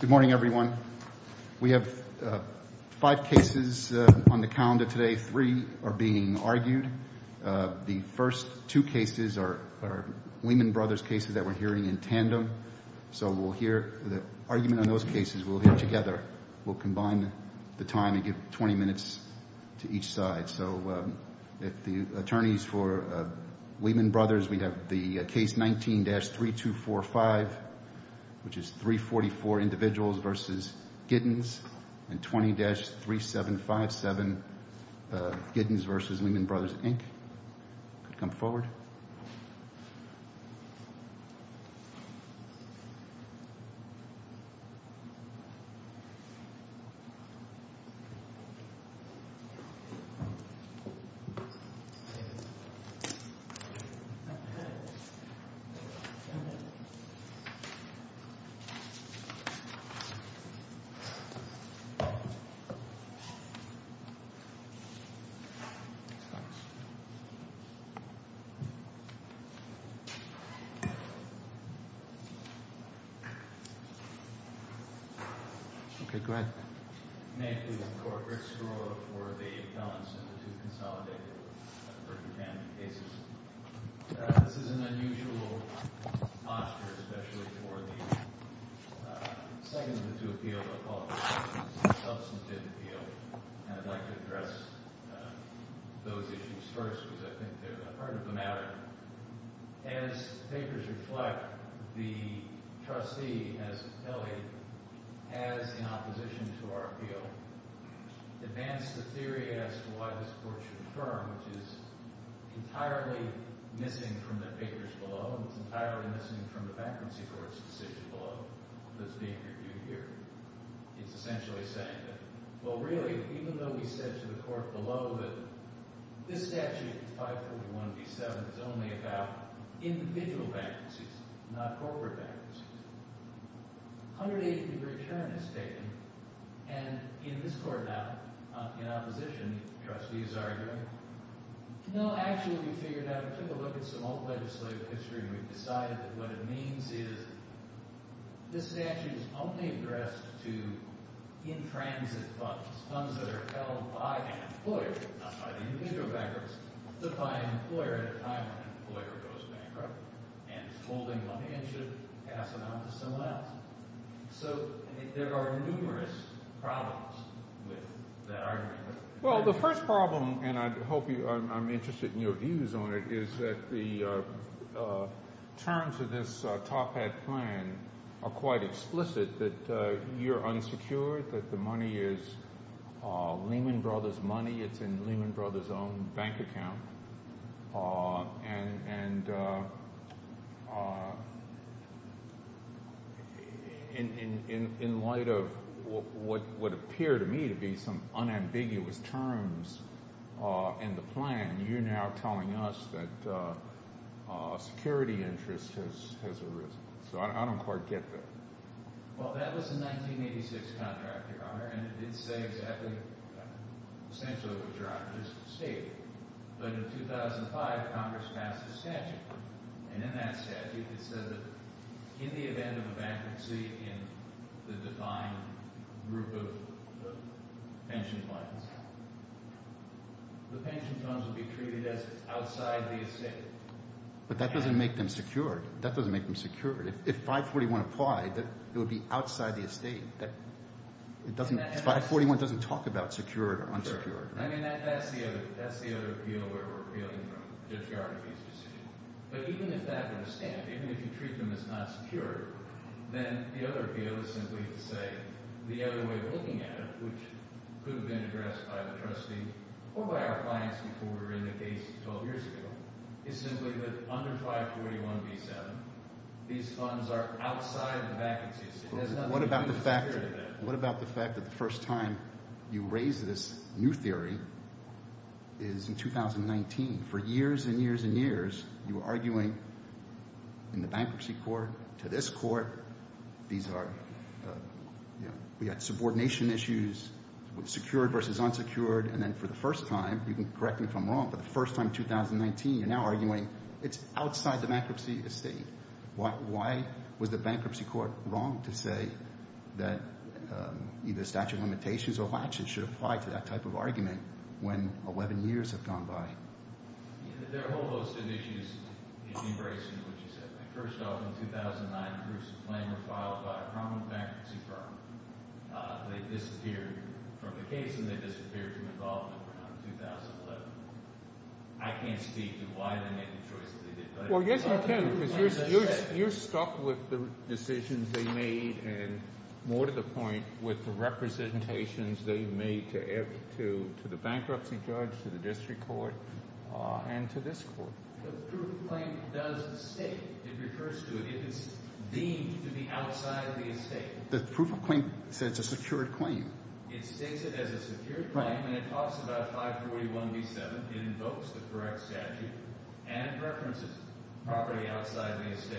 Good morning, everyone. We have five cases on the calendar today. Three are being argued. The first two cases are Lehman Brothers cases that we're hearing in tandem. So we'll hear the argument on those cases. We'll hear together. We'll combine the time and give 20 minutes to each side. So if the attorneys for Lehman Brothers, we have the case 19-3245, which is 344 individuals versus Giddens, and 20-3757, Giddens versus Lehman Brothers Inc. Come forward. Okay, go ahead. May I please implore Rick Skrula for the appellants to consolidate the first ten cases? This is an unusual posture, especially for the second of the two appeals I'll call the substantive appeal. And I'd like to address those issues first, because I think they're the heart of the matter. As the papers reflect, the trustee has in opposition to our appeal advanced a theory as to why this court should affirm, which is entirely missing from the papers below. It's entirely missing from the bankruptcy court's decision below that's being reviewed here. It's essentially saying that, well, really, even though we said to the court below that this statute, 541B7, is only about individual bankruptcies, not corporate bankruptcies, 180-degree turn is taken. And in this court now, in opposition, the trustee is arguing, no, actually, we figured out and took a look at some old legislative history and we've decided that what it means is this statute is only addressed to in-transit funds, funds that are held by an employer, not by the individual bankers, but by an employer at a time when an employer goes bankrupt and is holding a handshake, passing on to someone else. So there are numerous problems with that argument. Well, the first problem, and I hope I'm interested in your views on it, is that the terms of this top hat plan are quite explicit, that you're unsecured, that the money is Lehman Brothers money, it's in Lehman Brothers' own bank account, and in light of what would appear to me to be some unambiguous terms in the plan, you're now telling us that a security interest has arisen. So I don't quite get that. Well, that was a 1986 contract, Your Honor, and it did say exactly essentially what Your Honor just stated. But in 2005, Congress passed a statute, and in that statute it said that in the event of a bankruptcy in the defined group of pension funds, the pension funds would be treated as outside the estate. But that doesn't make them secured. That doesn't make them secured. If 541 applied, it would be outside the estate. 541 doesn't talk about secured or unsecured. I mean, that's the other appeal where we're appealing from Judge Gardner's decision. But even if that were to stand, even if you treat them as not secured, then the other appeal is simply to say the other way of looking at it, which could have been addressed by the trustee or by our clients before we were in the case 12 years ago, is simply that under 541b-7, these funds are outside the vacancies. What about the fact that the first time you raised this new theory is in 2019? For years and years and years, you were arguing in the bankruptcy court to this court, we had subordination issues with secured versus unsecured, and then for the first time, you can correct me if I'm wrong, but the first time in 2019, you're now arguing it's outside the bankruptcy estate. Why was the bankruptcy court wrong to say that either statute of limitations or laxity should apply to that type of argument when 11 years have gone by? There are a whole host of issues in embracing what you said. First off, in 2009, proofs of claim were filed by a prominent bankruptcy firm. They disappeared from the case, and they disappeared from involvement around 2011. I can't speak to why they made the choice that they did. Well, yes, you can because you're stuck with the decisions they made and more to the point with the representations they made to the bankruptcy judge, to the district court, and to this court. The proof of claim does state, it refers to it, it is deemed to be outside of the estate. The proof of claim says it's a secured claim. It states it as a secured claim, and it talks about 541B7. It invokes the correct statute and it references property outside the estate.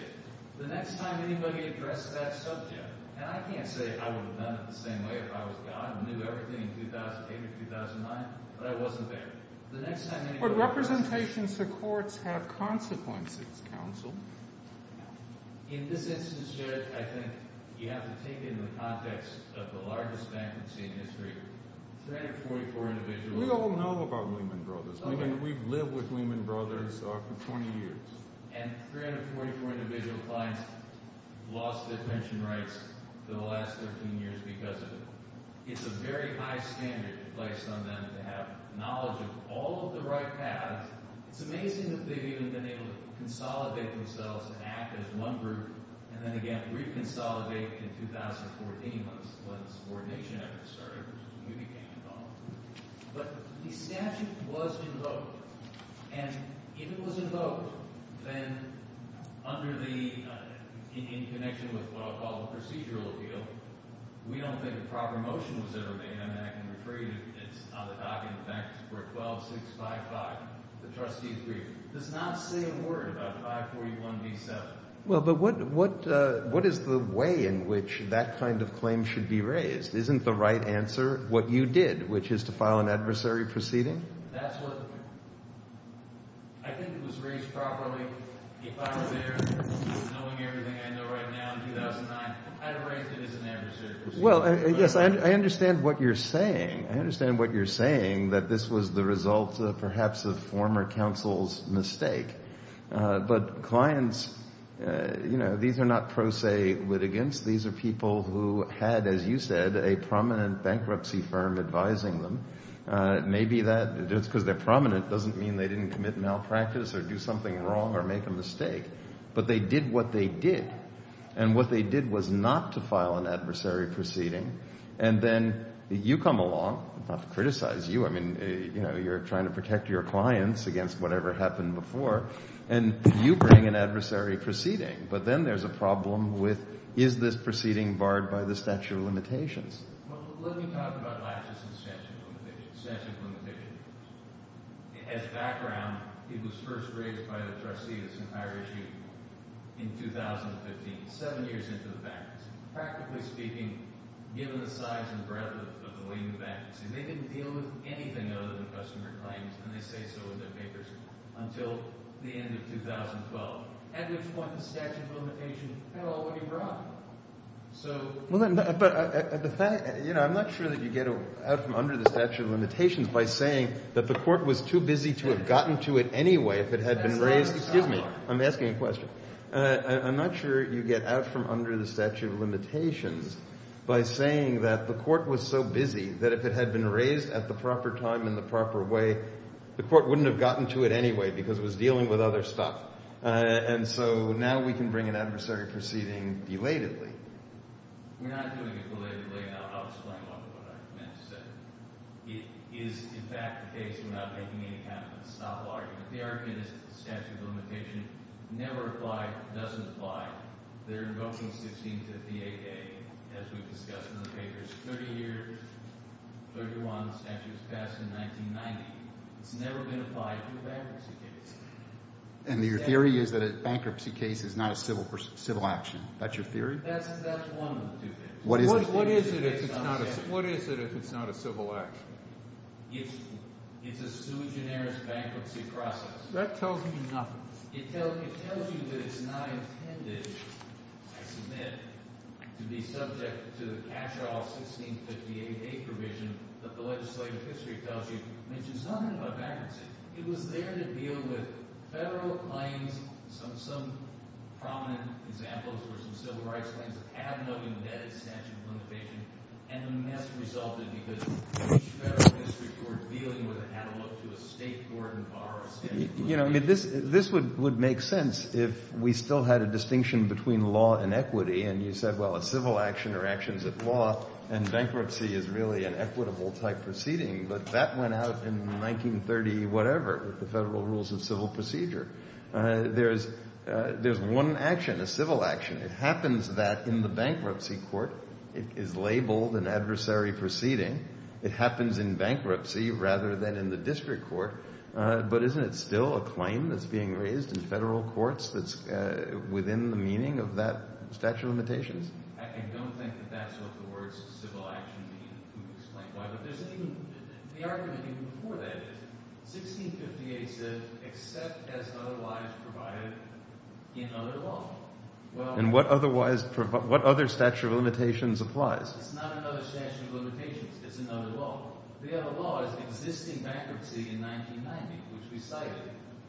The next time anybody addressed that subject, and I can't say I would have done it the same way if I was God and knew everything in 2008 or 2009, but I wasn't there. In this instance, Jared, I think you have to take it in the context of the largest bankruptcy in history. 344 individuals… We don't know about Lehman Brothers. We've lived with Lehman Brothers for 20 years. And 344 individual clients lost their pension rights for the last 13 years because of it. It's a very high standard placed on them to have knowledge of all of the right paths. It's amazing that they've even been able to consolidate themselves and act as one group, and then again reconsolidate in 2014 when subordination efforts started, when we became involved. But the statute was invoked, and if it was invoked, then under the – in connection with what I'll call the procedural appeal, we don't think a proper motion was ever made. It's on the docket, in fact, for 12655, the trustee's brief. It does not say a word about 541B7. Well, but what is the way in which that kind of claim should be raised? Isn't the right answer what you did, which is to file an adversary proceeding? That's what – I think it was raised properly. If I were there knowing everything I know right now in 2009, I'd have raised it as an adversary proceeding. Well, yes, I understand what you're saying. I understand what you're saying, that this was the result perhaps of former counsel's mistake. But clients – these are not pro se litigants. These are people who had, as you said, a prominent bankruptcy firm advising them. Maybe that – just because they're prominent doesn't mean they didn't commit malpractice or do something wrong or make a mistake. But they did what they did, and what they did was not to file an adversary proceeding. And then you come along. Not to criticize you. I mean you're trying to protect your clients against whatever happened before. And you bring an adversary proceeding. But then there's a problem with is this proceeding barred by the statute of limitations? Well, let me talk about latches and statute of limitations. It has background. It was first raised by the trustees in 2015, seven years into the bankruptcy. Practically speaking, given the size and breadth of the leading bankruptcy, they didn't deal with anything other than customer claims, and they say so in their papers, until the end of 2012, at which point the statute of limitations fell when you brought it. Well, but the fact – you know, I'm not sure that you get out from under the statute of limitations by saying that the court was too busy to have gotten to it anyway if it had been raised. Excuse me. I'm asking a question. I'm not sure you get out from under the statute of limitations by saying that the court was so busy that if it had been raised at the proper time and the proper way, the court wouldn't have gotten to it anyway because it was dealing with other stuff. And so now we can bring an adversary proceeding belatedly. We're not doing it belatedly. I'll explain what I meant to say. It is, in fact, the case. We're not making any kind of a stop law argument. The argument is that the statute of limitation never applied, doesn't apply. They're invoking 1658A, as we've discussed in the papers, 30 years, 31 statutes passed in 1990. It's never been applied to a bankruptcy case. And your theory is that a bankruptcy case is not a civil action. That's your theory? That's one of the two things. What is it if it's not a civil action? It's a sui generis bankruptcy process. That tells me nothing. It tells you that it's not intended, I submit, to be subject to the cash-off 1658A provision that the legislative history tells you mentions nothing about bankruptcy. It was there to deal with federal claims. Some prominent examples were some civil rights claims that had no embedded statute of limitation. And the mess resulted because each federal district court dealing with it had to look to a state court and borrow a statute of limitation. This would make sense if we still had a distinction between law and equity. And you said, well, a civil action or actions of law and bankruptcy is really an equitable-type proceeding. But that went out in 1930-whatever with the Federal Rules of Civil Procedure. There's one action, a civil action. It happens that in the bankruptcy court. It is labeled an adversary proceeding. It happens in bankruptcy rather than in the district court. But isn't it still a claim that's being raised in federal courts that's within the meaning of that statute of limitations? I don't think that that's what the words civil action mean. Could you explain why? But there's even – the argument even before that is 1658 says except as otherwise provided in other law. And what otherwise – what other statute of limitations applies? It's not another statute of limitations. It's in other law. The other law is existing bankruptcy in 1990, which we cited,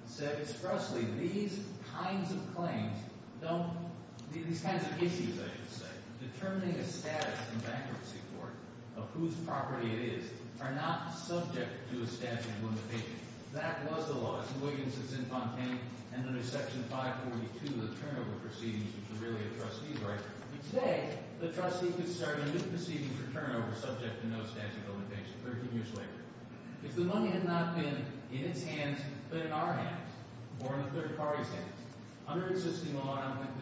said expressly these kinds of claims don't – these kinds of issues, I should say. Determining a status in bankruptcy court of whose property it is are not subject to a statute of limitation. That was the law. It's in Williamson's Infantain and under Section 542 of the Turnover Proceedings, which is really a trustee's right. Today, the trustee could start a new proceeding for turnover subject to no statute of limitation 13 years later. If the money had not been in its hands but in our hands or in the third party's hands, under existing law, I don't think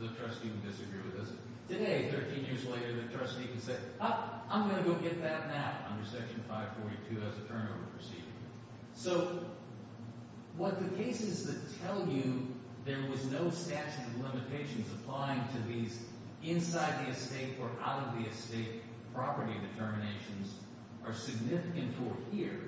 the trustee would disagree with us. Today, 13 years later, the trustee can say, oh, I'm going to go get that now under Section 542 as a turnover proceeding. So what the cases that tell you there was no statute of limitations applying to these inside-the-estate or out-of-the-estate property determinations are significant for here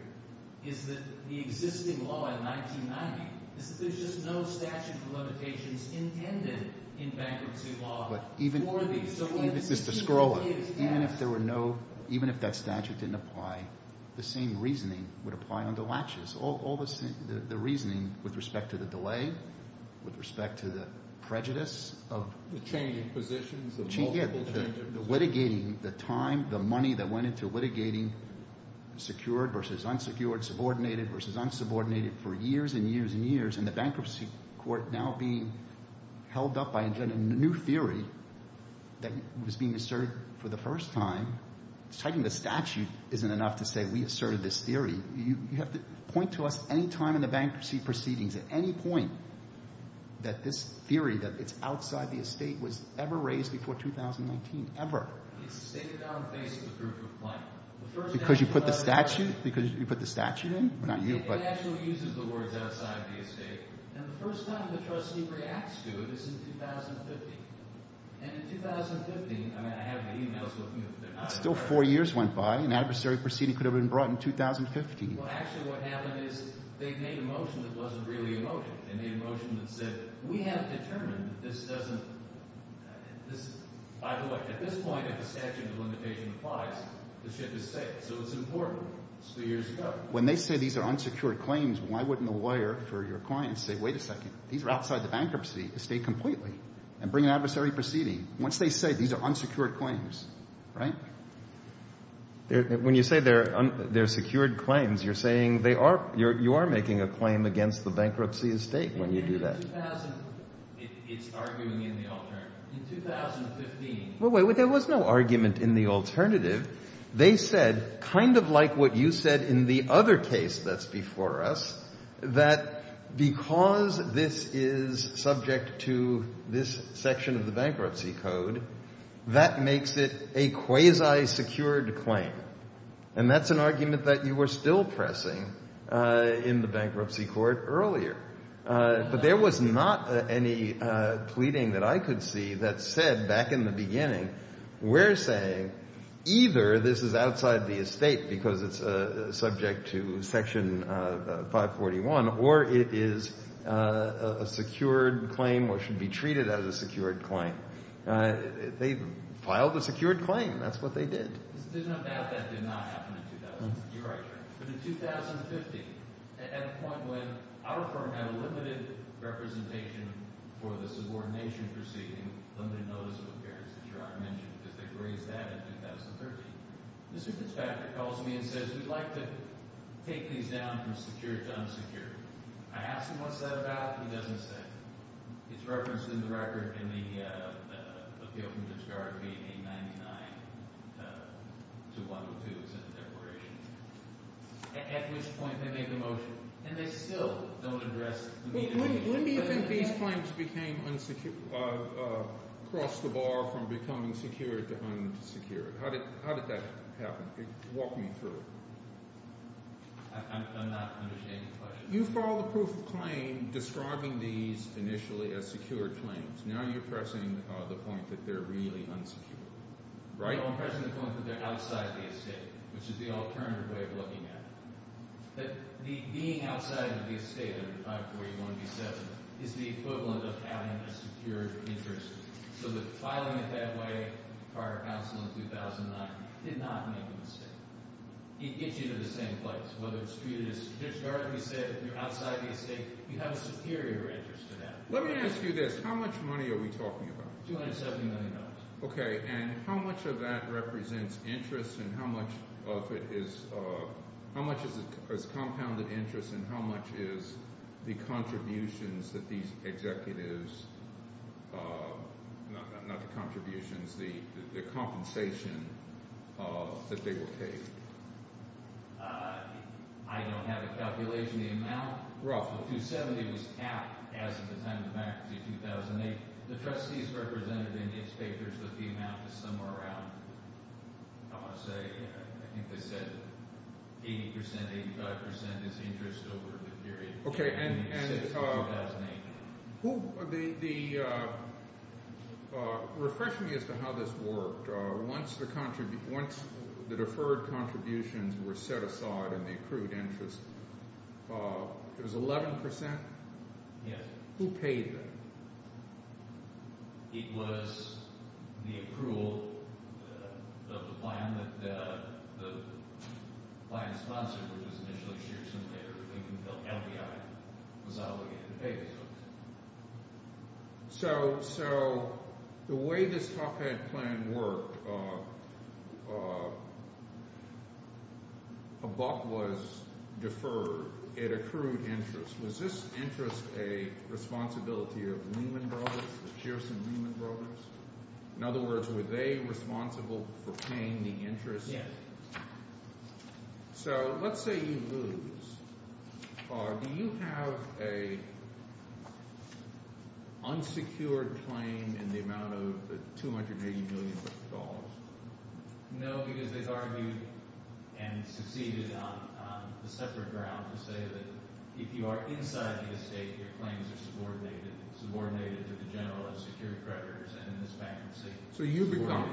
is that the existing law in 1990 is that there's just no statute of limitations intended in bankruptcy law for these. Mr. Skrola, even if there were no – even if that statute didn't apply, the same reasoning would apply under Latches. All the – the reasoning with respect to the delay, with respect to the prejudice of – The changing positions of multiple changes. Yeah, the litigating, the time, the money that went into litigating secured versus unsecured, subordinated versus unsubordinated for years and years and years, and the bankruptcy court now being held up by a new theory that was being asserted for the first time, citing the statute isn't enough to say we asserted this theory. You have to point to us any time in the bankruptcy proceedings, at any point, that this theory that it's outside the estate was ever raised before 2019, ever. It's stated down in the face of the proof of claim. Because you put the statute – because you put the statute in? Not you, but – It actually uses the words outside the estate, and the first time the trustee reacts to it is in 2015. And in 2015 – I mean, I have the e-mails with me. Still four years went by. An adversary proceeding could have been brought in 2015. Well, actually what happened is they made a motion that wasn't really a motion. They made a motion that said we have determined that this doesn't – by the way, at this point, if the statute of limitation applies, the ship is safe. So it's important. It's three years ago. When they say these are unsecured claims, why wouldn't the lawyer for your client say, wait a second, these are outside the bankruptcy estate completely and bring an adversary proceeding? Once they say these are unsecured claims, right? When you say they're secured claims, you're saying they are – you are making a claim against the bankruptcy estate when you do that. It's arguing in the alternative. In 2015 – Well, wait, there was no argument in the alternative. They said, kind of like what you said in the other case that's before us, that because this is subject to this section of the bankruptcy code, that makes it a quasi-secured claim. And that's an argument that you were still pressing in the bankruptcy court earlier. But there was not any pleading that I could see that said back in the beginning, we're saying either this is outside the estate because it's subject to Section 541 or it is a secured claim or should be treated as a secured claim. They filed a secured claim. That's what they did. There's no doubt that did not happen in 2000. You're right. But in 2015, at a point when our firm had a limited representation for the subordination proceeding, limited notice of appearance, as you already mentioned, because they grazed that in 2013, Mr. Fitzpatrick calls me and says, we'd like to take these down from secured to unsecured. I asked him what's that about. He doesn't say. It's referenced in the record in the Appeal from Discard, page 899 to 102, it's in the Declaration, at which point they made the motion. And they still don't address the need to make it secure. When do you think these claims became unsecured, crossed the bar from becoming secured to unsecured? How did that happen? Walk me through it. I'm not understanding the question. You follow the proof of claim, describing these initially as secured claims. Now you're pressing the point that they're really unsecured. Right? No, I'm pressing the point that they're outside the estate, which is the alternative way of looking at it. That being outside of the estate under Article 81B7 is the equivalent of having a secured interest. So that filing it that way, prior counsel in 2009, did not make a mistake. It gets you to the same place, whether it's treated as traditionally safe or outside the estate. You have a superior interest to that. Let me ask you this. How much money are we talking about? $270 million. Okay, and how much of that represents interest and how much of it is – how much is compounded interest and how much is the contributions that these executives – not the contributions, the compensation that they were paid? I don't have a calculation of the amount. Roughly. The $270 was capped as of the time of the bankruptcy in 2008. The trustees represented in its papers that the amount is somewhere around – I want to say, I think they said 80 percent, 85 percent is interest over the period. Okay, and the – refresh me as to how this worked. Once the deferred contributions were set aside and they accrued interest, it was 11 percent? Yes. Who paid them? It was the accrual of the plan that the plan sponsor, which was initially Shearson, later became the FBI, was obligated to pay those folks. So the way this top hat plan worked, a buck was deferred. It accrued interest. Was this interest a responsibility of Lehman Brothers, of Shearson-Lehman Brothers? In other words, were they responsible for paying the interest? Yes. So let's say you lose. Do you have an unsecured claim in the amount of $280 million? No, because they've argued and succeeded on a separate ground to say that if you are inside the estate, your claims are subordinated to the general unsecured creditors and in this bankruptcy. So you become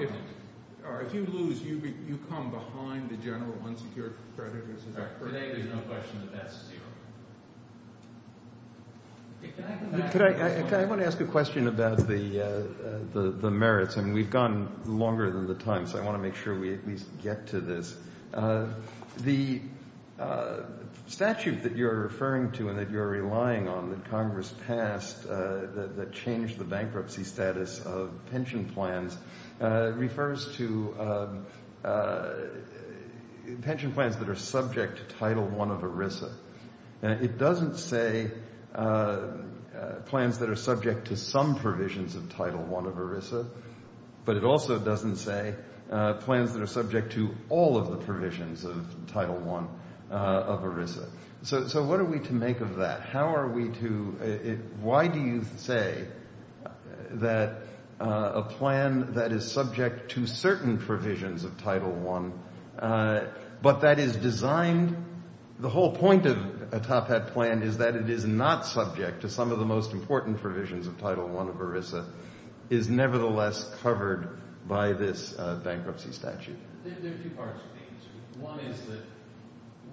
– or if you lose, you come behind the general unsecured creditors? Today there's no question that that's zero. I want to ask a question about the merits, and we've gone longer than the time, so I want to make sure we at least get to this. The statute that you're referring to and that you're relying on that Congress passed that changed the bankruptcy status of pension plans refers to pension plans that are subject to Title I of ERISA. It doesn't say plans that are subject to some provisions of Title I of ERISA, but it also doesn't say plans that are subject to all of the provisions of Title I of ERISA. So what are we to make of that? How are we to – why do you say that a plan that is subject to certain provisions of Title I, but that is designed – the whole point of a top-hat plan is that it is not subject to some of the most important provisions of Title I of ERISA, is nevertheless covered by this bankruptcy statute? There are two parts to the answer. One is that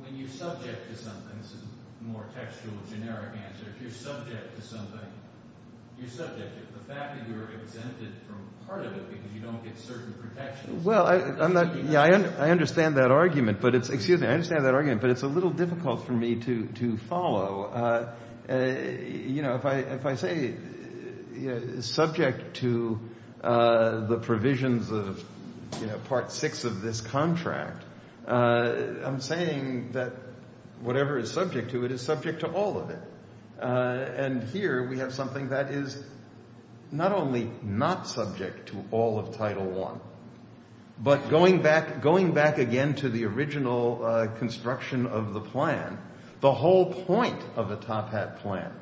when you're subject to something – this is a more textual, generic answer – if you're subject to something, you're subject to the fact that you're exempted from part of it because you don't get certain protections. Well, I'm not – yeah, I understand that argument, but it's – excuse me. I understand that argument, but it's a little difficult for me to follow. If I say subject to the provisions of part six of this contract, I'm saying that whatever is subject to it is subject to all of it. And here we have something that is not only not subject to all of Title I, but going back again to the original construction of the plan, the whole point of a top-hat plan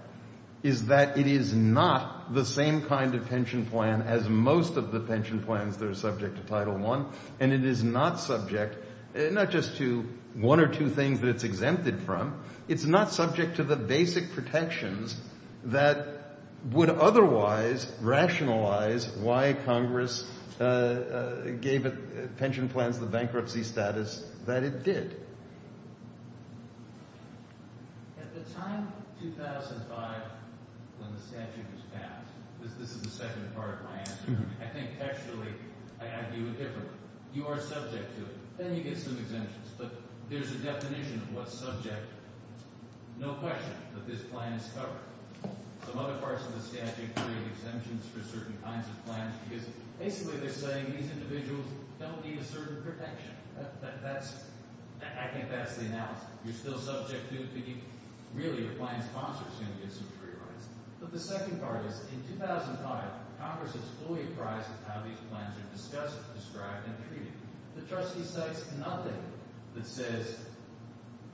is that it is not the same kind of pension plan as most of the pension plans that are subject to Title I, and it is not subject not just to one or two things that it's exempted from. It's not subject to the basic protections that would otherwise rationalize why Congress gave pension plans the bankruptcy status that it did. At the time, 2005, when the statute was passed – this is the second part of my answer – I think textually I argue it differently. You are subject to it. Then you get some exemptions, but there's a definition of what's subject. No question that this plan is covered. Some other parts of the statute create exemptions for certain kinds of plans because basically they're saying these individuals don't need a certain protection. That's – I think that's the analysis. You're still subject to it, but you – really, your client's sponsor is going to get some free rides. But the second part is in 2005, Congress is fully apprised of how these plans are discussed, described, and treated. The trustee cites nothing that says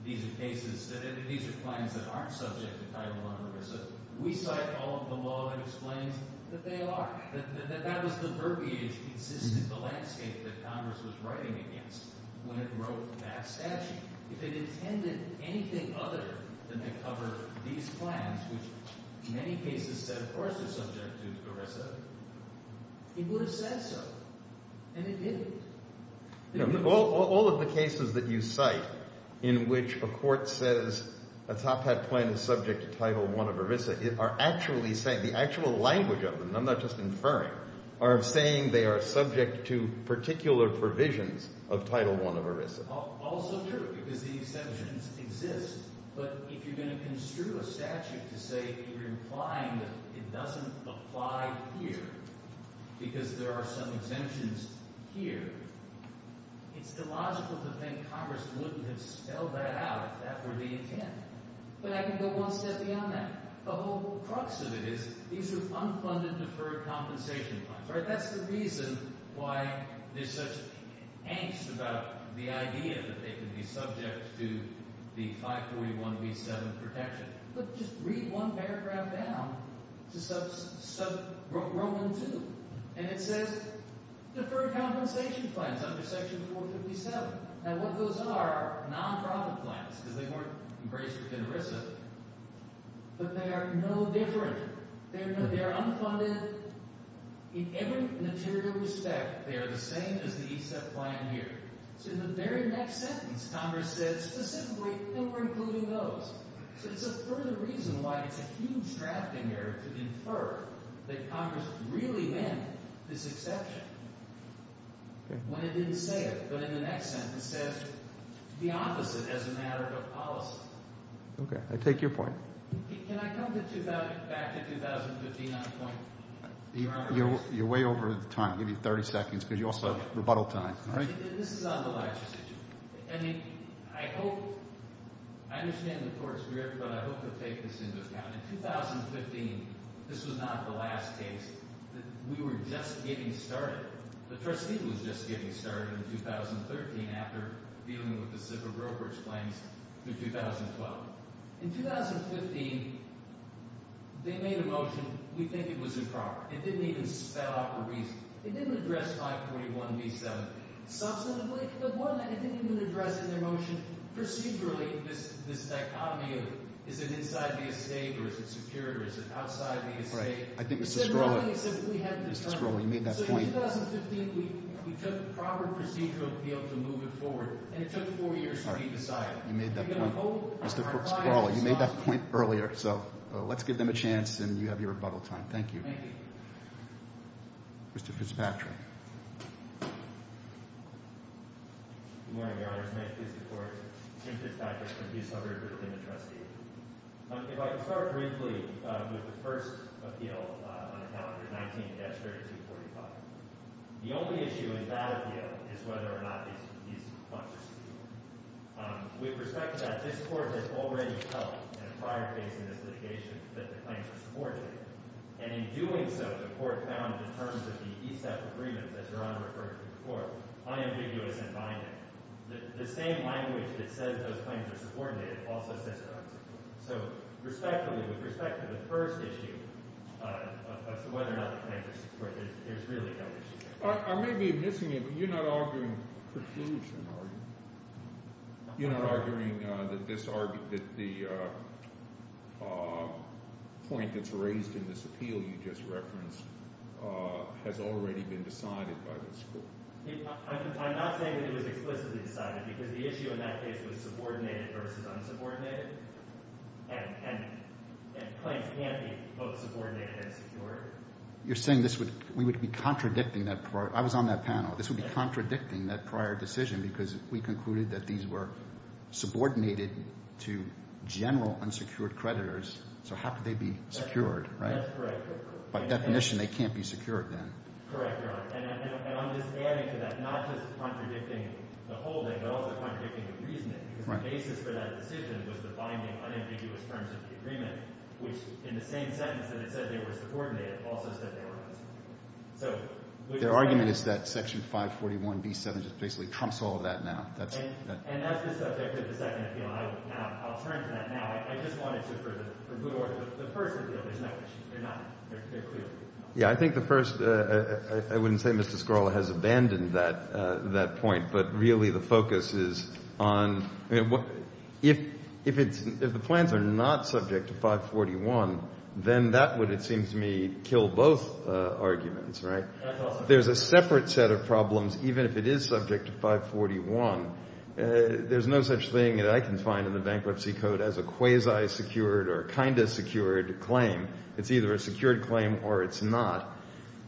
these are cases – that these are plans that aren't subject to Title I ERISA. We cite all of the law that explains that they are, that that was the verbiage consistent with the landscape that Congress was writing against when it wrote that statute. If it intended anything other than to cover these plans, which in many cases said, of course, they're subject to ERISA, it would have said so, and it didn't. All of the cases that you cite in which a court says a Top Hat plan is subject to Title I of ERISA are actually saying – the actual language of them, and I'm not just inferring, are saying they are subject to particular provisions of Title I of ERISA. Also true because the exemptions exist, but if you're going to construe a statute to say you're implying that it doesn't apply here because there are some exemptions here, it's illogical to think Congress wouldn't have spelled that out if that were the intent. But I can go one step beyond that. The whole crux of it is these are unfunded, deferred compensation plans. That's the reason why there's such angst about the idea that they could be subject to the 541B7 protection. But just read one paragraph down to Roman 2, and it says deferred compensation plans under Section 457. Now, what those are are non-profit plans because they weren't embraced within ERISA, but they are no different. They are unfunded. In every material respect, they are the same as the ESEP plan here. So in the very next sentence, Congress says specifically that we're including those. So it's a further reason why it's a huge drafting error to infer that Congress really meant this exception when it didn't say it, but in the next sentence says the opposite as a matter of policy. Okay. I take your point. Can I come back to 2015 on point? You're way over time. I'll give you 30 seconds because you also have rebuttal time. All right. This is on the license issue. I mean, I hope – I understand the court's grip, but I hope to take this into account. In 2015, this was not the last case. We were just getting started. The trustee was just getting started in 2013 after dealing with the civil brokerage claims through 2012. In 2015, they made a motion we think it was improper. It didn't even spell out the reason. It didn't address 541B7. Substantively, the one that I think they didn't address in their motion, procedurally, this dichotomy of is it inside the estate or is it superior or is it outside the estate. Right. I think Mr. Skrola – Except we had to determine. Mr. Skrola, you made that point. So in 2015, we took the proper procedural appeal to move it forward, and it took four years to be decided. You made that point. Mr. Skrola, you made that point earlier. So let's give them a chance, and you have your rebuttal time. Thank you. Thank you. Mr. Fitzpatrick. Good morning, Your Honor. It's my pleasure to support Chief Fitzpatrick from his suburb within the trustee. If I could start briefly with the first appeal on the calendar, 19-3245. The only issue in that appeal is whether or not these funds are secure. With respect to that, this court has already held in a prior case in this litigation that the claims were supported. And in doing so, the court found in terms of the ESAP agreements, as Your Honor referred to before, unambiguous and binding. The same language that says those claims are supported also says they're unsupported. So respectfully, with respect to the first issue of whether or not the claims are supported, there's really no issue there. I may be missing it, but you're not arguing confusion, are you? You're not arguing that the point that's raised in this appeal you just referenced has already been decided by this court. I'm not saying that it was explicitly decided because the issue in that case was subordinated versus unsubordinated, and claims can't be both subordinated and secured. You're saying this would – we would be contradicting that prior – I was on that panel. This would be contradicting that prior decision because we concluded that these were subordinated to general unsecured creditors. So how could they be secured, right? That's correct. By definition, they can't be secured then. Correct, Your Honor. And I'm just adding to that, not just contradicting the holding but also contradicting the reasoning because the basis for that decision was the binding unambiguous terms of the agreement, which in the same sentence that it said they were subordinated also said they were unsupported. Their argument is that Section 541B7 just basically trumps all of that now. And that's the subject of the second appeal. I'll turn to that now. I just wanted to – for the first appeal, there's no issue. They're not – they're clear. Yeah, I think the first – I wouldn't say Mr. Skorla has abandoned that point, but really the focus is on – if the plans are not subject to 541, then that would, it seems to me, kill both arguments, right? There's a separate set of problems even if it is subject to 541. There's no such thing that I can find in the Bankruptcy Code as a quasi-secured or kind of secured claim. It's either a secured claim or it's not.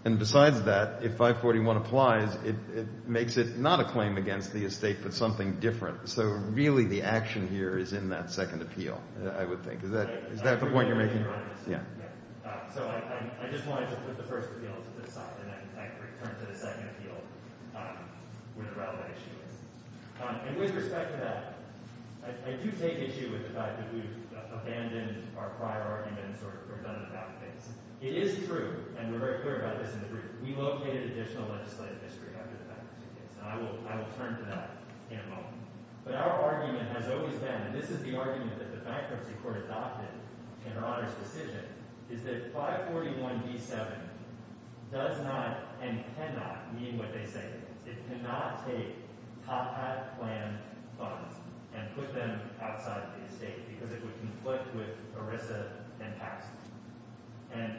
And besides that, if 541 applies, it makes it not a claim against the estate but something different. So really the action here is in that second appeal, I would think. Is that the point you're making? Yeah. So I just wanted to put the first appeal to the side, and I can return to the second appeal where the relevant issue is. And with respect to that, I do take issue with the fact that we've abandoned our prior arguments or done the bad things. It is true, and we're very clear about this in the group, we located additional legislative history under the Bankruptcy case. And I will turn to that in a moment. But our argument has always been, and this is the argument that the Bankruptcy Court adopted in her Honor's decision, is that 541d7 does not and cannot mean what they say it does. It cannot take top-hat plan funds and put them outside the estate because it would conflict with ERISA and taxes. And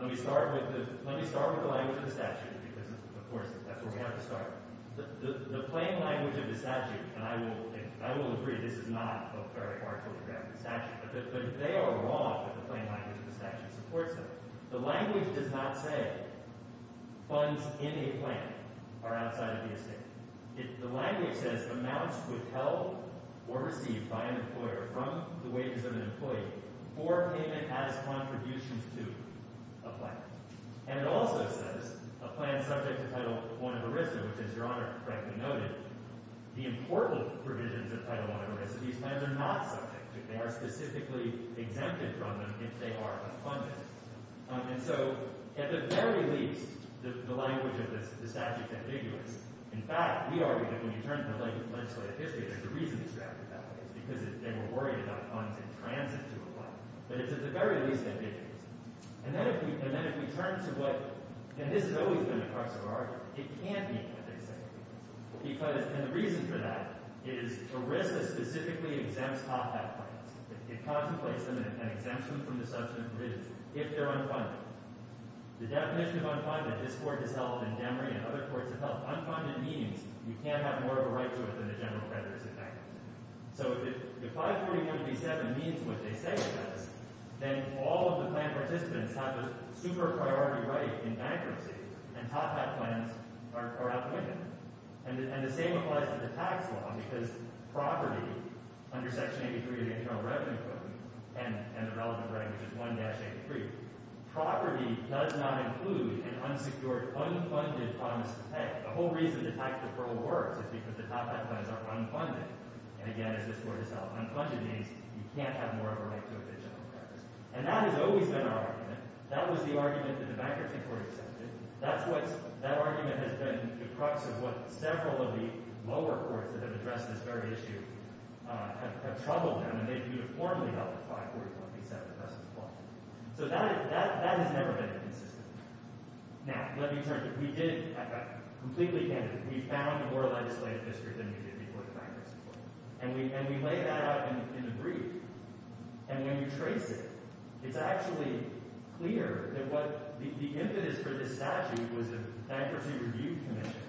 let me start with the language of the statute, because, of course, that's where we have to start. The plain language of the statute, and I will agree this is not a very far-fetched statute, but they are wrong if the plain language of the statute supports them. The language does not say funds in a plan are outside of the estate. The language says, amounts withheld or received by an employer from the wages of an employee for payment as contributions to a plan. And it also says, a plan subject to Title I of ERISA, which, as Your Honor correctly noted, the important provisions of Title I of ERISA, these plans are not subject to. They are specifically exempted from them if they are unfunded. And so, at the very least, the language of the statute is ambiguous. In fact, we argue that when you turn to the legislative history, that the reason it's drafted that way is because they were worried about funds in transit to a plan. But it's at the very least ambiguous. And then if we turn to what – and this has always been the crux of our argument – it can't be what they say. Because – and the reason for that is ERISA specifically exempts top-hat plans. It contemplates them and exempts them from the substantive provisions if they're unfunded. The definition of unfunded, this Court has held in Demery and other courts have held, unfunded means you can't have more of a right to it than the general creditor's effect. So if 541B7 means what they say it does, then all of the plan participants have a super-priority right in bankruptcy, and top-hat plans are outwitted. And the same applies to the tax law because property, under Section 83 of the Internal Revenue Code, and the relevant language is 1-83. Property does not include an unsecured, unfunded promise to tax. The whole reason the tax deferral works is because the top-hat plans are unfunded. And again, as this Court has held, unfunded means you can't have more of a right to a fictional premise. And that has always been our argument. That was the argument that the Bankruptcy Court accepted. That's what's – that argument has been the crux of what several of the lower courts that have addressed this very issue have troubled them, and they've uniformly held that 541B7 doesn't apply. So that has never been consistent. Now, let me turn to – we did – I'm completely candid. We found more legislative history than we did before the Bankruptcy Court. And we laid that out in the brief. And when you trace it, it's actually clear that what – the impetus for this statute was the Bankruptcy Review Commission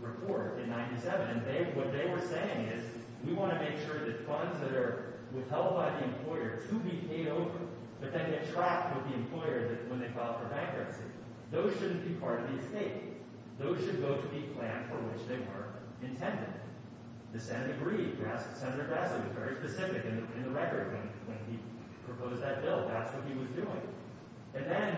report in 1997. And they – what they were saying is we want to make sure that funds that are held by the employer to be paid over, but then get trapped with the employer when they file for bankruptcy. Those shouldn't be part of the estate. Those should go to the plan for which they were intended. The Senate agreed. Senator Grassley was very specific in the record when he proposed that bill. That's what he was doing. And then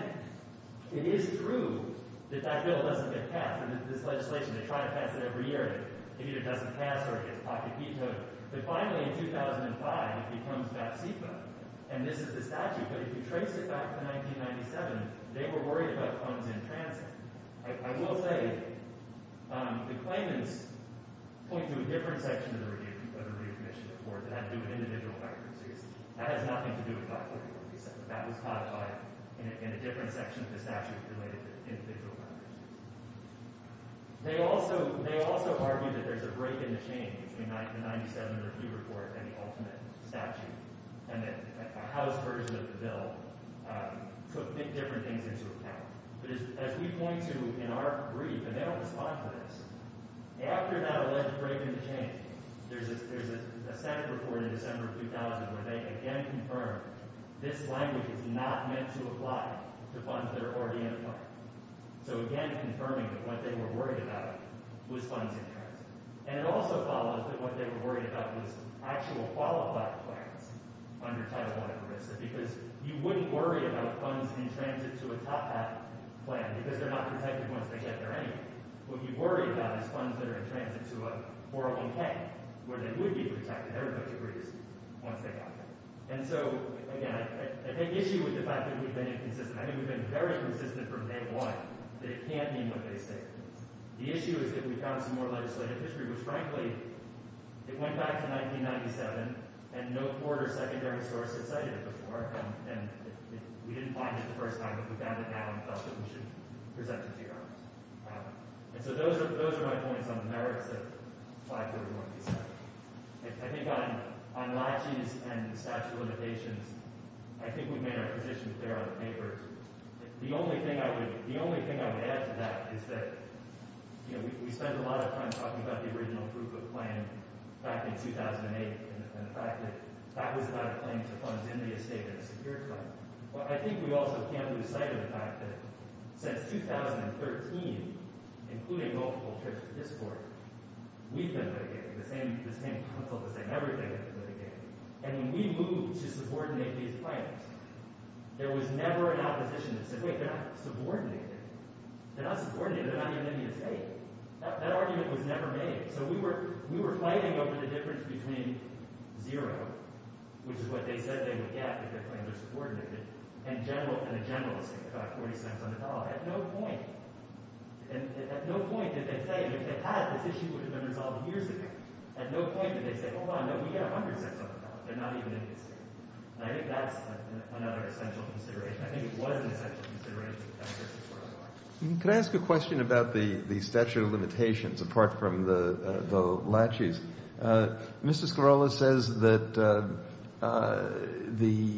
it is true that that bill doesn't get passed. This legislation, they try to pass it every year. It either doesn't pass or it gets pocket vetoed. But finally, in 2005, it becomes that CFA. And this is the statute. But if you trace it back to 1997, they were worried about funds in transit. I will say the claimants point to a different section of the Review Commission report that had to do with individual bankruptcies. That has nothing to do with 541B7. That was codified in a different section of the statute related to individual bankruptcies. They also argue that there's a break in the chain between the 1997 review report and the ultimate statute and that a housed version of the bill took different things into account. But as we point to in our brief, and they don't respond to this, after that alleged break in the chain, there's a Senate report in December of 2000 where they, again, confirm this language is not meant to apply to funds that are already in the plan. So, again, confirming that what they were worried about was funds in transit. And it also follows that what they were worried about was actual qualified plans under Title I of the RISD because you wouldn't worry about funds in transit to a top-hat plan because they're not protected once they get there anyway. What you worry about is funds that are in transit to a 401K where they would be protected, everybody agrees, once they got there. And so, again, I think the issue is the fact that we've been inconsistent. I think we've been very consistent from day one that it can't mean what they say it means. The issue is that we found some more legislative history, which, frankly, it went back to 1997, and no court or secondary source had cited it before, and we didn't find it the first time, but we found it now and felt that we should present it to you guys. And so those are my points on the merits of 531B7. I think on latches and statute of limitations, I think we've made our position clear on the paper. The only thing I would add to that is that, you know, we spent a lot of time talking about the original proof of claim back in 2008 and the fact that that was not a claim to funds in the estate at a secure time. But I think we also can't lose sight of the fact that since 2013, including multiple trips to this court, we've been litigated, the same counsel, the same everything has been litigated. And when we moved to subordinate these claims, there was never an opposition that said, wait, they're not subordinated, they're not subordinated, they're not even in the estate. That argument was never made. So we were fighting over the difference between zero, which is what they said they would get if they claimed they're subordinated, and a generalistic effect, $0.40 on the dollar. At no point, at no point did they say, and if they had, this issue would have been resolved years ago. At no point did they say, hold on, no, we get $0.10 on the dollar. They're not even in the estate. And I think that's another essential consideration. I think it was an essential consideration. Can I ask a question about the statute of limitations, apart from the laches? Mr. Sklarola says that the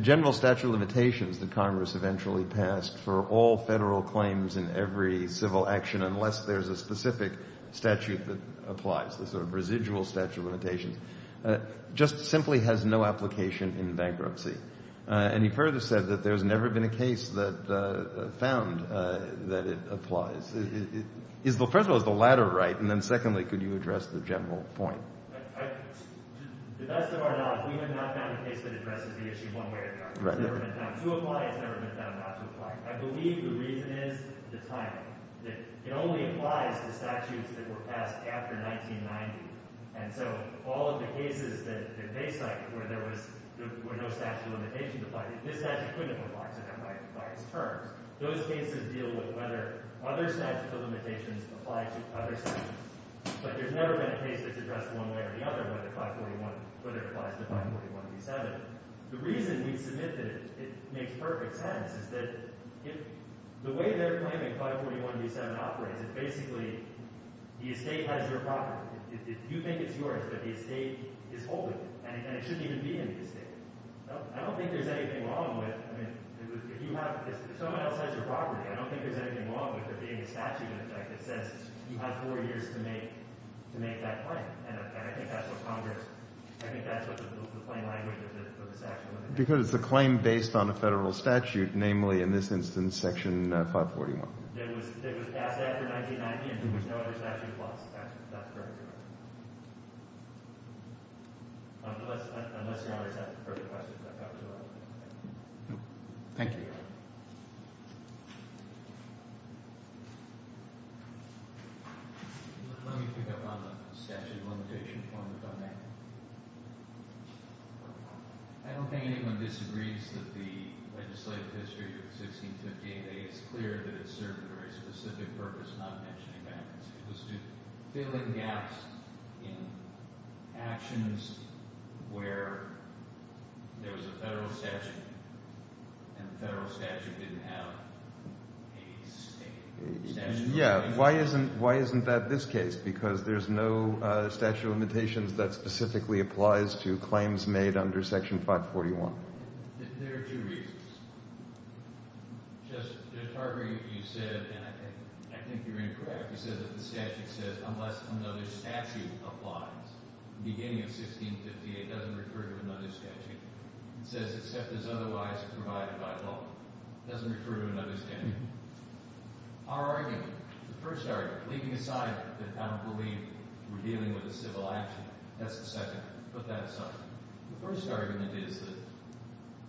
general statute of limitations that Congress eventually passed for all federal claims in every civil action, unless there's a specific statute that applies, the sort of residual statute of limitations, just simply has no application in bankruptcy. And he further said that there's never been a case that found that it applies. First of all, is the latter right? And then secondly, could you address the general point? To the best of our knowledge, we have not found a case that addresses the issue one way or another. It's never been found to apply. It's never been found not to apply. I believe the reason is the timing, that it only applies to statutes that were passed after 1990. And so all of the cases that they cite, where there was no statute of limitations applied, this statute couldn't have applied to them by its terms. Those cases deal with whether other statutes of limitations apply to other statutes. But there's never been a case that's addressed one way or the other, whether it applies to 541B7. The reason we submit that it makes perfect sense is that the way they're claiming 541B7 operates, is that basically the estate has your property. You think it's yours, but the estate is holding it. And it shouldn't even be in the estate. I don't think there's anything wrong with, I mean, if someone else has your property, I don't think there's anything wrong with it being a statute in effect that says you have four years to make that claim. And I think that's what Congress, I think that's what the plain language of the statute would have been. Because it's a claim based on a federal statute, namely in this instance Section 541. It was passed after 1990, and there was no other statute that passed it. That's correct. Unless the others have further questions, I thought it was all right. Thank you. Let me pick up on the statute of limitations on the domain. I don't think anyone disagrees that the legislative history of 1658A is clear that it served a very specific purpose, not mentioning bankruptcy, which was to fill in gaps in actions where there was a federal statute, and the federal statute didn't have a statute of limitations. Yeah, why isn't that this case? Because there's no statute of limitations that specifically applies to claims made under Section 541. There are two reasons. Just to heart break what you said, and I think you're incorrect, you said that the statute says unless another statute applies at the beginning of 1658, it doesn't refer to another statute. It says except as otherwise provided by law. It doesn't refer to another statute. Our argument, the first argument, leaving aside that I don't believe we're dealing with a civil action, that's the second argument. Put that aside. The first argument is that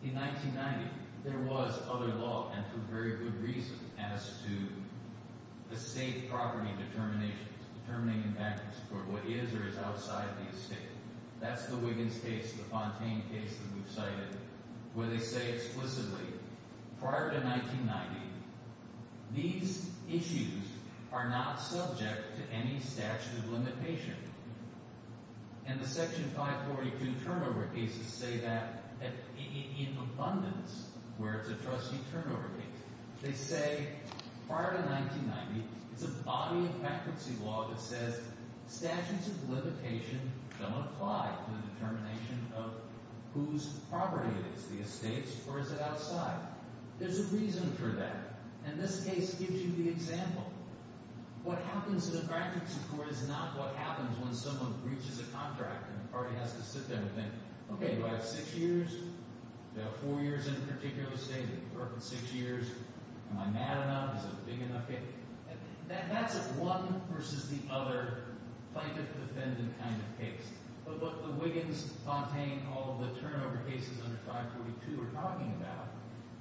in 1990, there was other law, and for very good reason, as to estate property determinations, determining in bankruptcy for what is or is outside the estate. That's the Wiggins case, the Fontaine case that we've cited, where they say explicitly prior to 1990, these issues are not subject to any statute of limitation. And the Section 542 turnover cases say that in abundance, where it's a trustee turnover case. They say prior to 1990, it's a body of bankruptcy law that says statutes of limitation don't apply to the determination of whose property it is, the estate's or is it outside. There's a reason for that, and this case gives you the example. What happens in a bankruptcy court is not what happens when someone breaches a contract and the party has to sit there and think, okay, do I have six years? Do I have four years in a particular estate? Do I have six years? Am I mad enough? Is it a big enough case? That's a one versus the other plaintiff-defendant kind of case. But what the Wiggins, Fontaine, all the turnover cases under 542 are talking about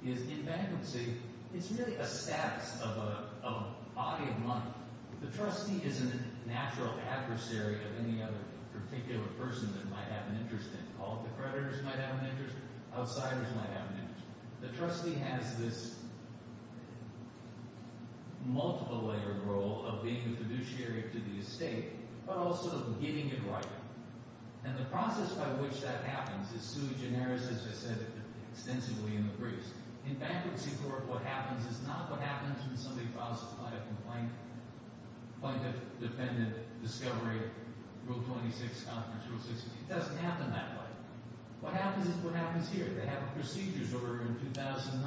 is in bankruptcy, it's really a status of a body of money. The trustee isn't a natural adversary of any other particular person that might have an interest in it. All the creditors might have an interest. Outsiders might have an interest. The trustee has this multiple-layered role of being the fiduciary to the estate but also getting it right. And the process by which that happens is too generous, as I said, extensively in the briefs. In bankruptcy court, what happens is not what happens when somebody files a complaint, plaintiff-defendant discovery, Rule 26, Conference Rule 16. It doesn't happen that way. What happens is what happens here. They have a procedures order in 2009.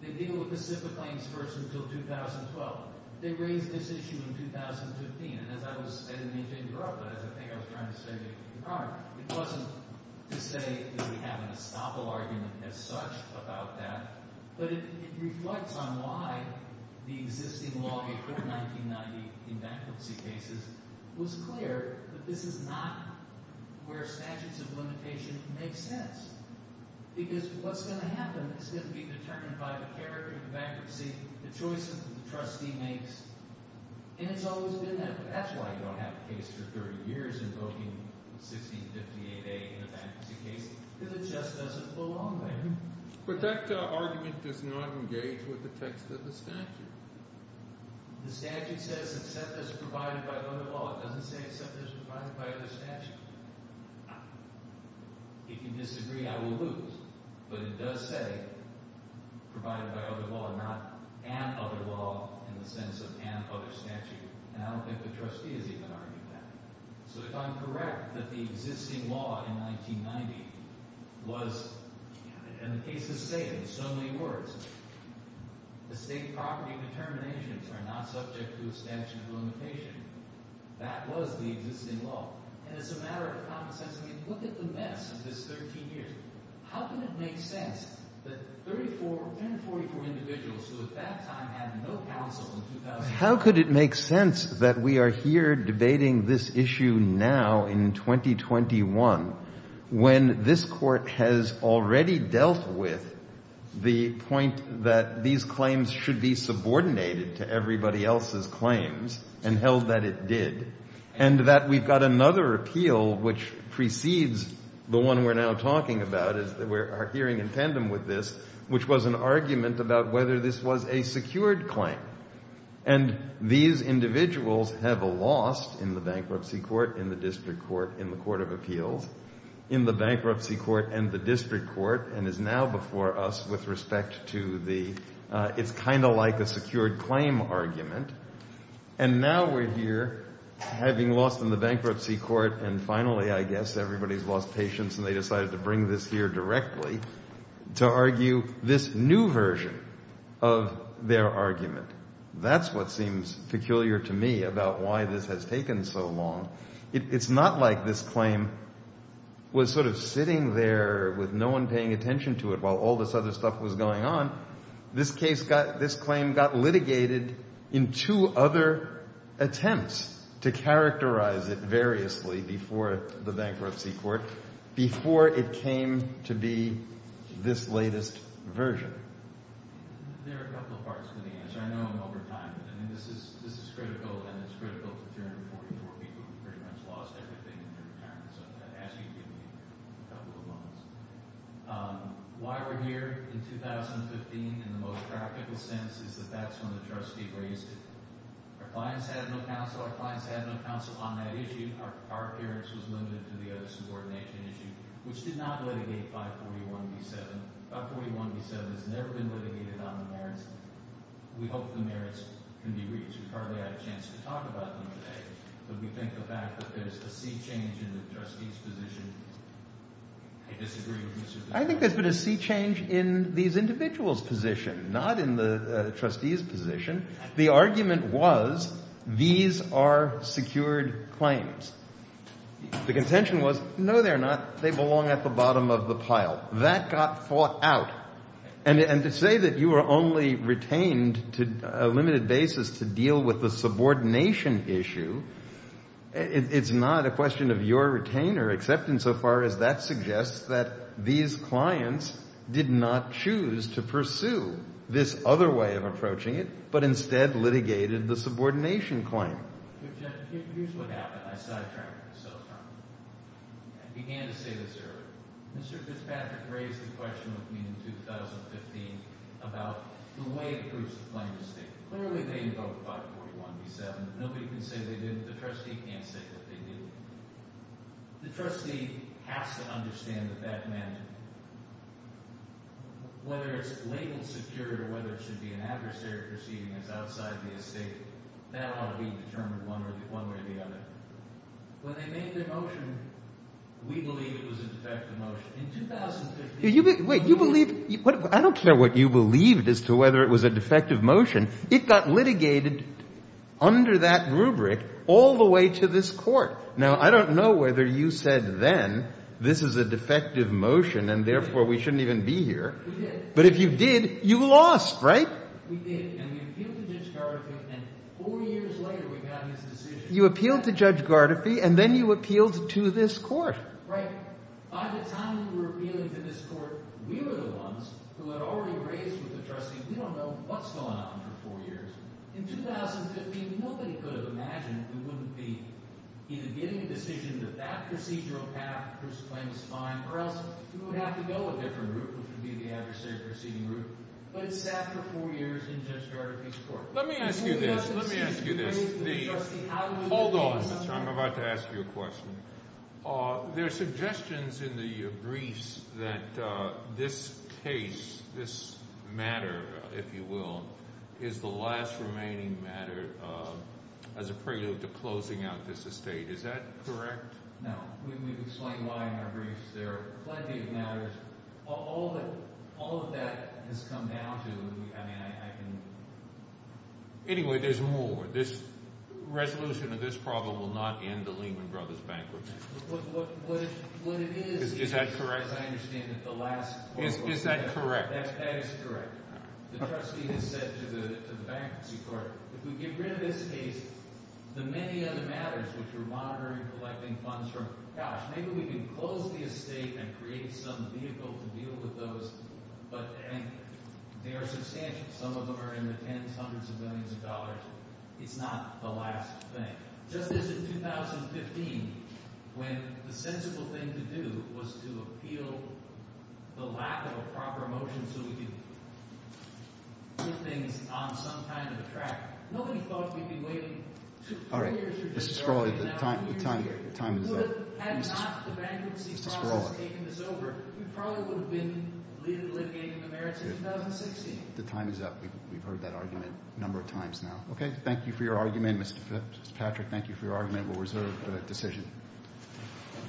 They deal with the SIPA claims first until 2012. They raise this issue in 2015. And as I was – I didn't mean to interrupt, but as I think I was trying to say to you prior, it wasn't to say that we have an estoppel argument as such about that, but it reflects on why the existing law before 1990 in bankruptcy cases was clear that this is not where statutes of limitation make sense because what's going to happen is going to be determined by the character of the bankruptcy, the choices that the trustee makes, and it's always been that. That's why you don't have a case for 30 years invoking 1658A in a bankruptcy case because it just doesn't belong there. But that argument does not engage with the text of the statute. The statute says accept as provided by other law. It doesn't say accept as provided by other statute. If you disagree, I will lose. But it does say provided by other law, not an other law in the sense of an other statute, and I don't think the trustee has even argued that. So if I'm correct that the existing law in 1990 was – and the case is the same in so many words. The state property determinations are not subject to a statute of limitation. That was the existing law. And it's a matter of common sense. I mean, look at the mess of this 13 years. How can it make sense that 34, 144 individuals who at that time had no counsel in 2000 How could it make sense that we are here debating this issue now in 2021 when this court has already dealt with the point that these claims should be subordinated to everybody else's claims and held that it did and that we've got another appeal which precedes the one we're now talking about, our hearing in tandem with this, which was an argument about whether this was a secured claim. And these individuals have lost in the bankruptcy court, in the district court, in the court of appeals, in the bankruptcy court and the district court, and is now before us with respect to the it's kind of like a secured claim argument. And now we're here having lost in the bankruptcy court, and finally I guess everybody's lost patience and they decided to bring this here directly to argue this new version of their argument. That's what seems peculiar to me about why this has taken so long. It's not like this claim was sort of sitting there with no one paying attention to it while all this other stuff was going on. This case got, this claim got litigated in two other attempts to characterize it variously before the bankruptcy court, before it came to be this latest version. There are a couple of parts to the answer. I know I'm over time, but I mean this is critical and it's critical to 344 people who pretty much lost everything in their retirement, so I'm going to ask you to give me a couple of moments. Why we're here in 2015 in the most practical sense is that that's when the trustee raised it. Our clients had no counsel. Our clients had no counsel on that issue. Our appearance was limited to the other subordination issue, which did not litigate 541B7. 541B7 has never been litigated on the merits. We hope the merits can be reached. We've hardly had a chance to talk about them today, but we think the fact that there's a sea change in the trustees' position, I disagree with you. I think there's been a sea change in these individuals' position, not in the trustees' position. The argument was these are secured claims. The contention was no, they're not. They belong at the bottom of the pile. That got fought out. And to say that you were only retained to a limited basis to deal with the subordination issue, it's not a question of your retainer except insofar as that suggests that these clients did not choose to pursue this other way of approaching it, but instead litigated the subordination claim. But, Jeff, here's what happened. I sidetracked myself from it. I began to say this earlier. Mr. Fitzpatrick raised the question with me in 2015 about the way it proves the plaintiff's statement. Clearly they invoked 541B7. Nobody can say they didn't. The trustee can't say that they didn't. The trustee has to understand what that meant. Whether it's labeled secure or whether it should be an adversary proceeding that's outside the estate, that ought to be determined one way or the other. When they made their motion, we believe it was a defective motion. In 2015— Wait, you believe—I don't care what you believed as to whether it was a defective motion. It got litigated under that rubric all the way to this court. Now, I don't know whether you said then, this is a defective motion and therefore we shouldn't even be here. We did. But if you did, you lost, right? We did, and we appealed to Judge Gardefee, and four years later we got his decision. You appealed to Judge Gardefee, and then you appealed to this court. Right. By the time we were appealing to this court, we were the ones who had already raised with the trustee. We don't know what's going on for four years. In 2015, nobody could have imagined we wouldn't be either getting a decision that that procedural path was fine or else we would have to go a different route, which would be the adversary proceeding route. But it sat for four years in Judge Gardefee's court. Let me ask you this. Let me ask you this. Hold on. I'm about to ask you a question. There are suggestions in the briefs that this case, this matter, if you will, is the last remaining matter as a prelude to closing out this estate. Is that correct? No. We've explained why in our briefs. There are plenty of matters. All of that has come down to, I mean, I can… Anyway, there's more. This resolution of this problem will not end the Lehman Brothers' bankruptcy. What it is… Is that correct? As I understand it, the last… Is that correct? That is correct. The trustee has said to the bankruptcy court, if we get rid of this case, the many other matters, which were monitoring and collecting funds from, gosh, maybe we can close the estate and create some vehicle to deal with those, but they are substantial. Some of them are in the tens, hundreds of billions of dollars. It's not the last thing. Just as in 2015, when the sensible thing to do was to appeal the lack of a proper motion so we could put things on some kind of a track, nobody thought we'd be waiting two, three years for this… The time is up. The time is up. We've heard that argument a number of times now. Okay. Thank you for your argument, Mr. Patrick. Thank you for your argument. We'll reserve the decision.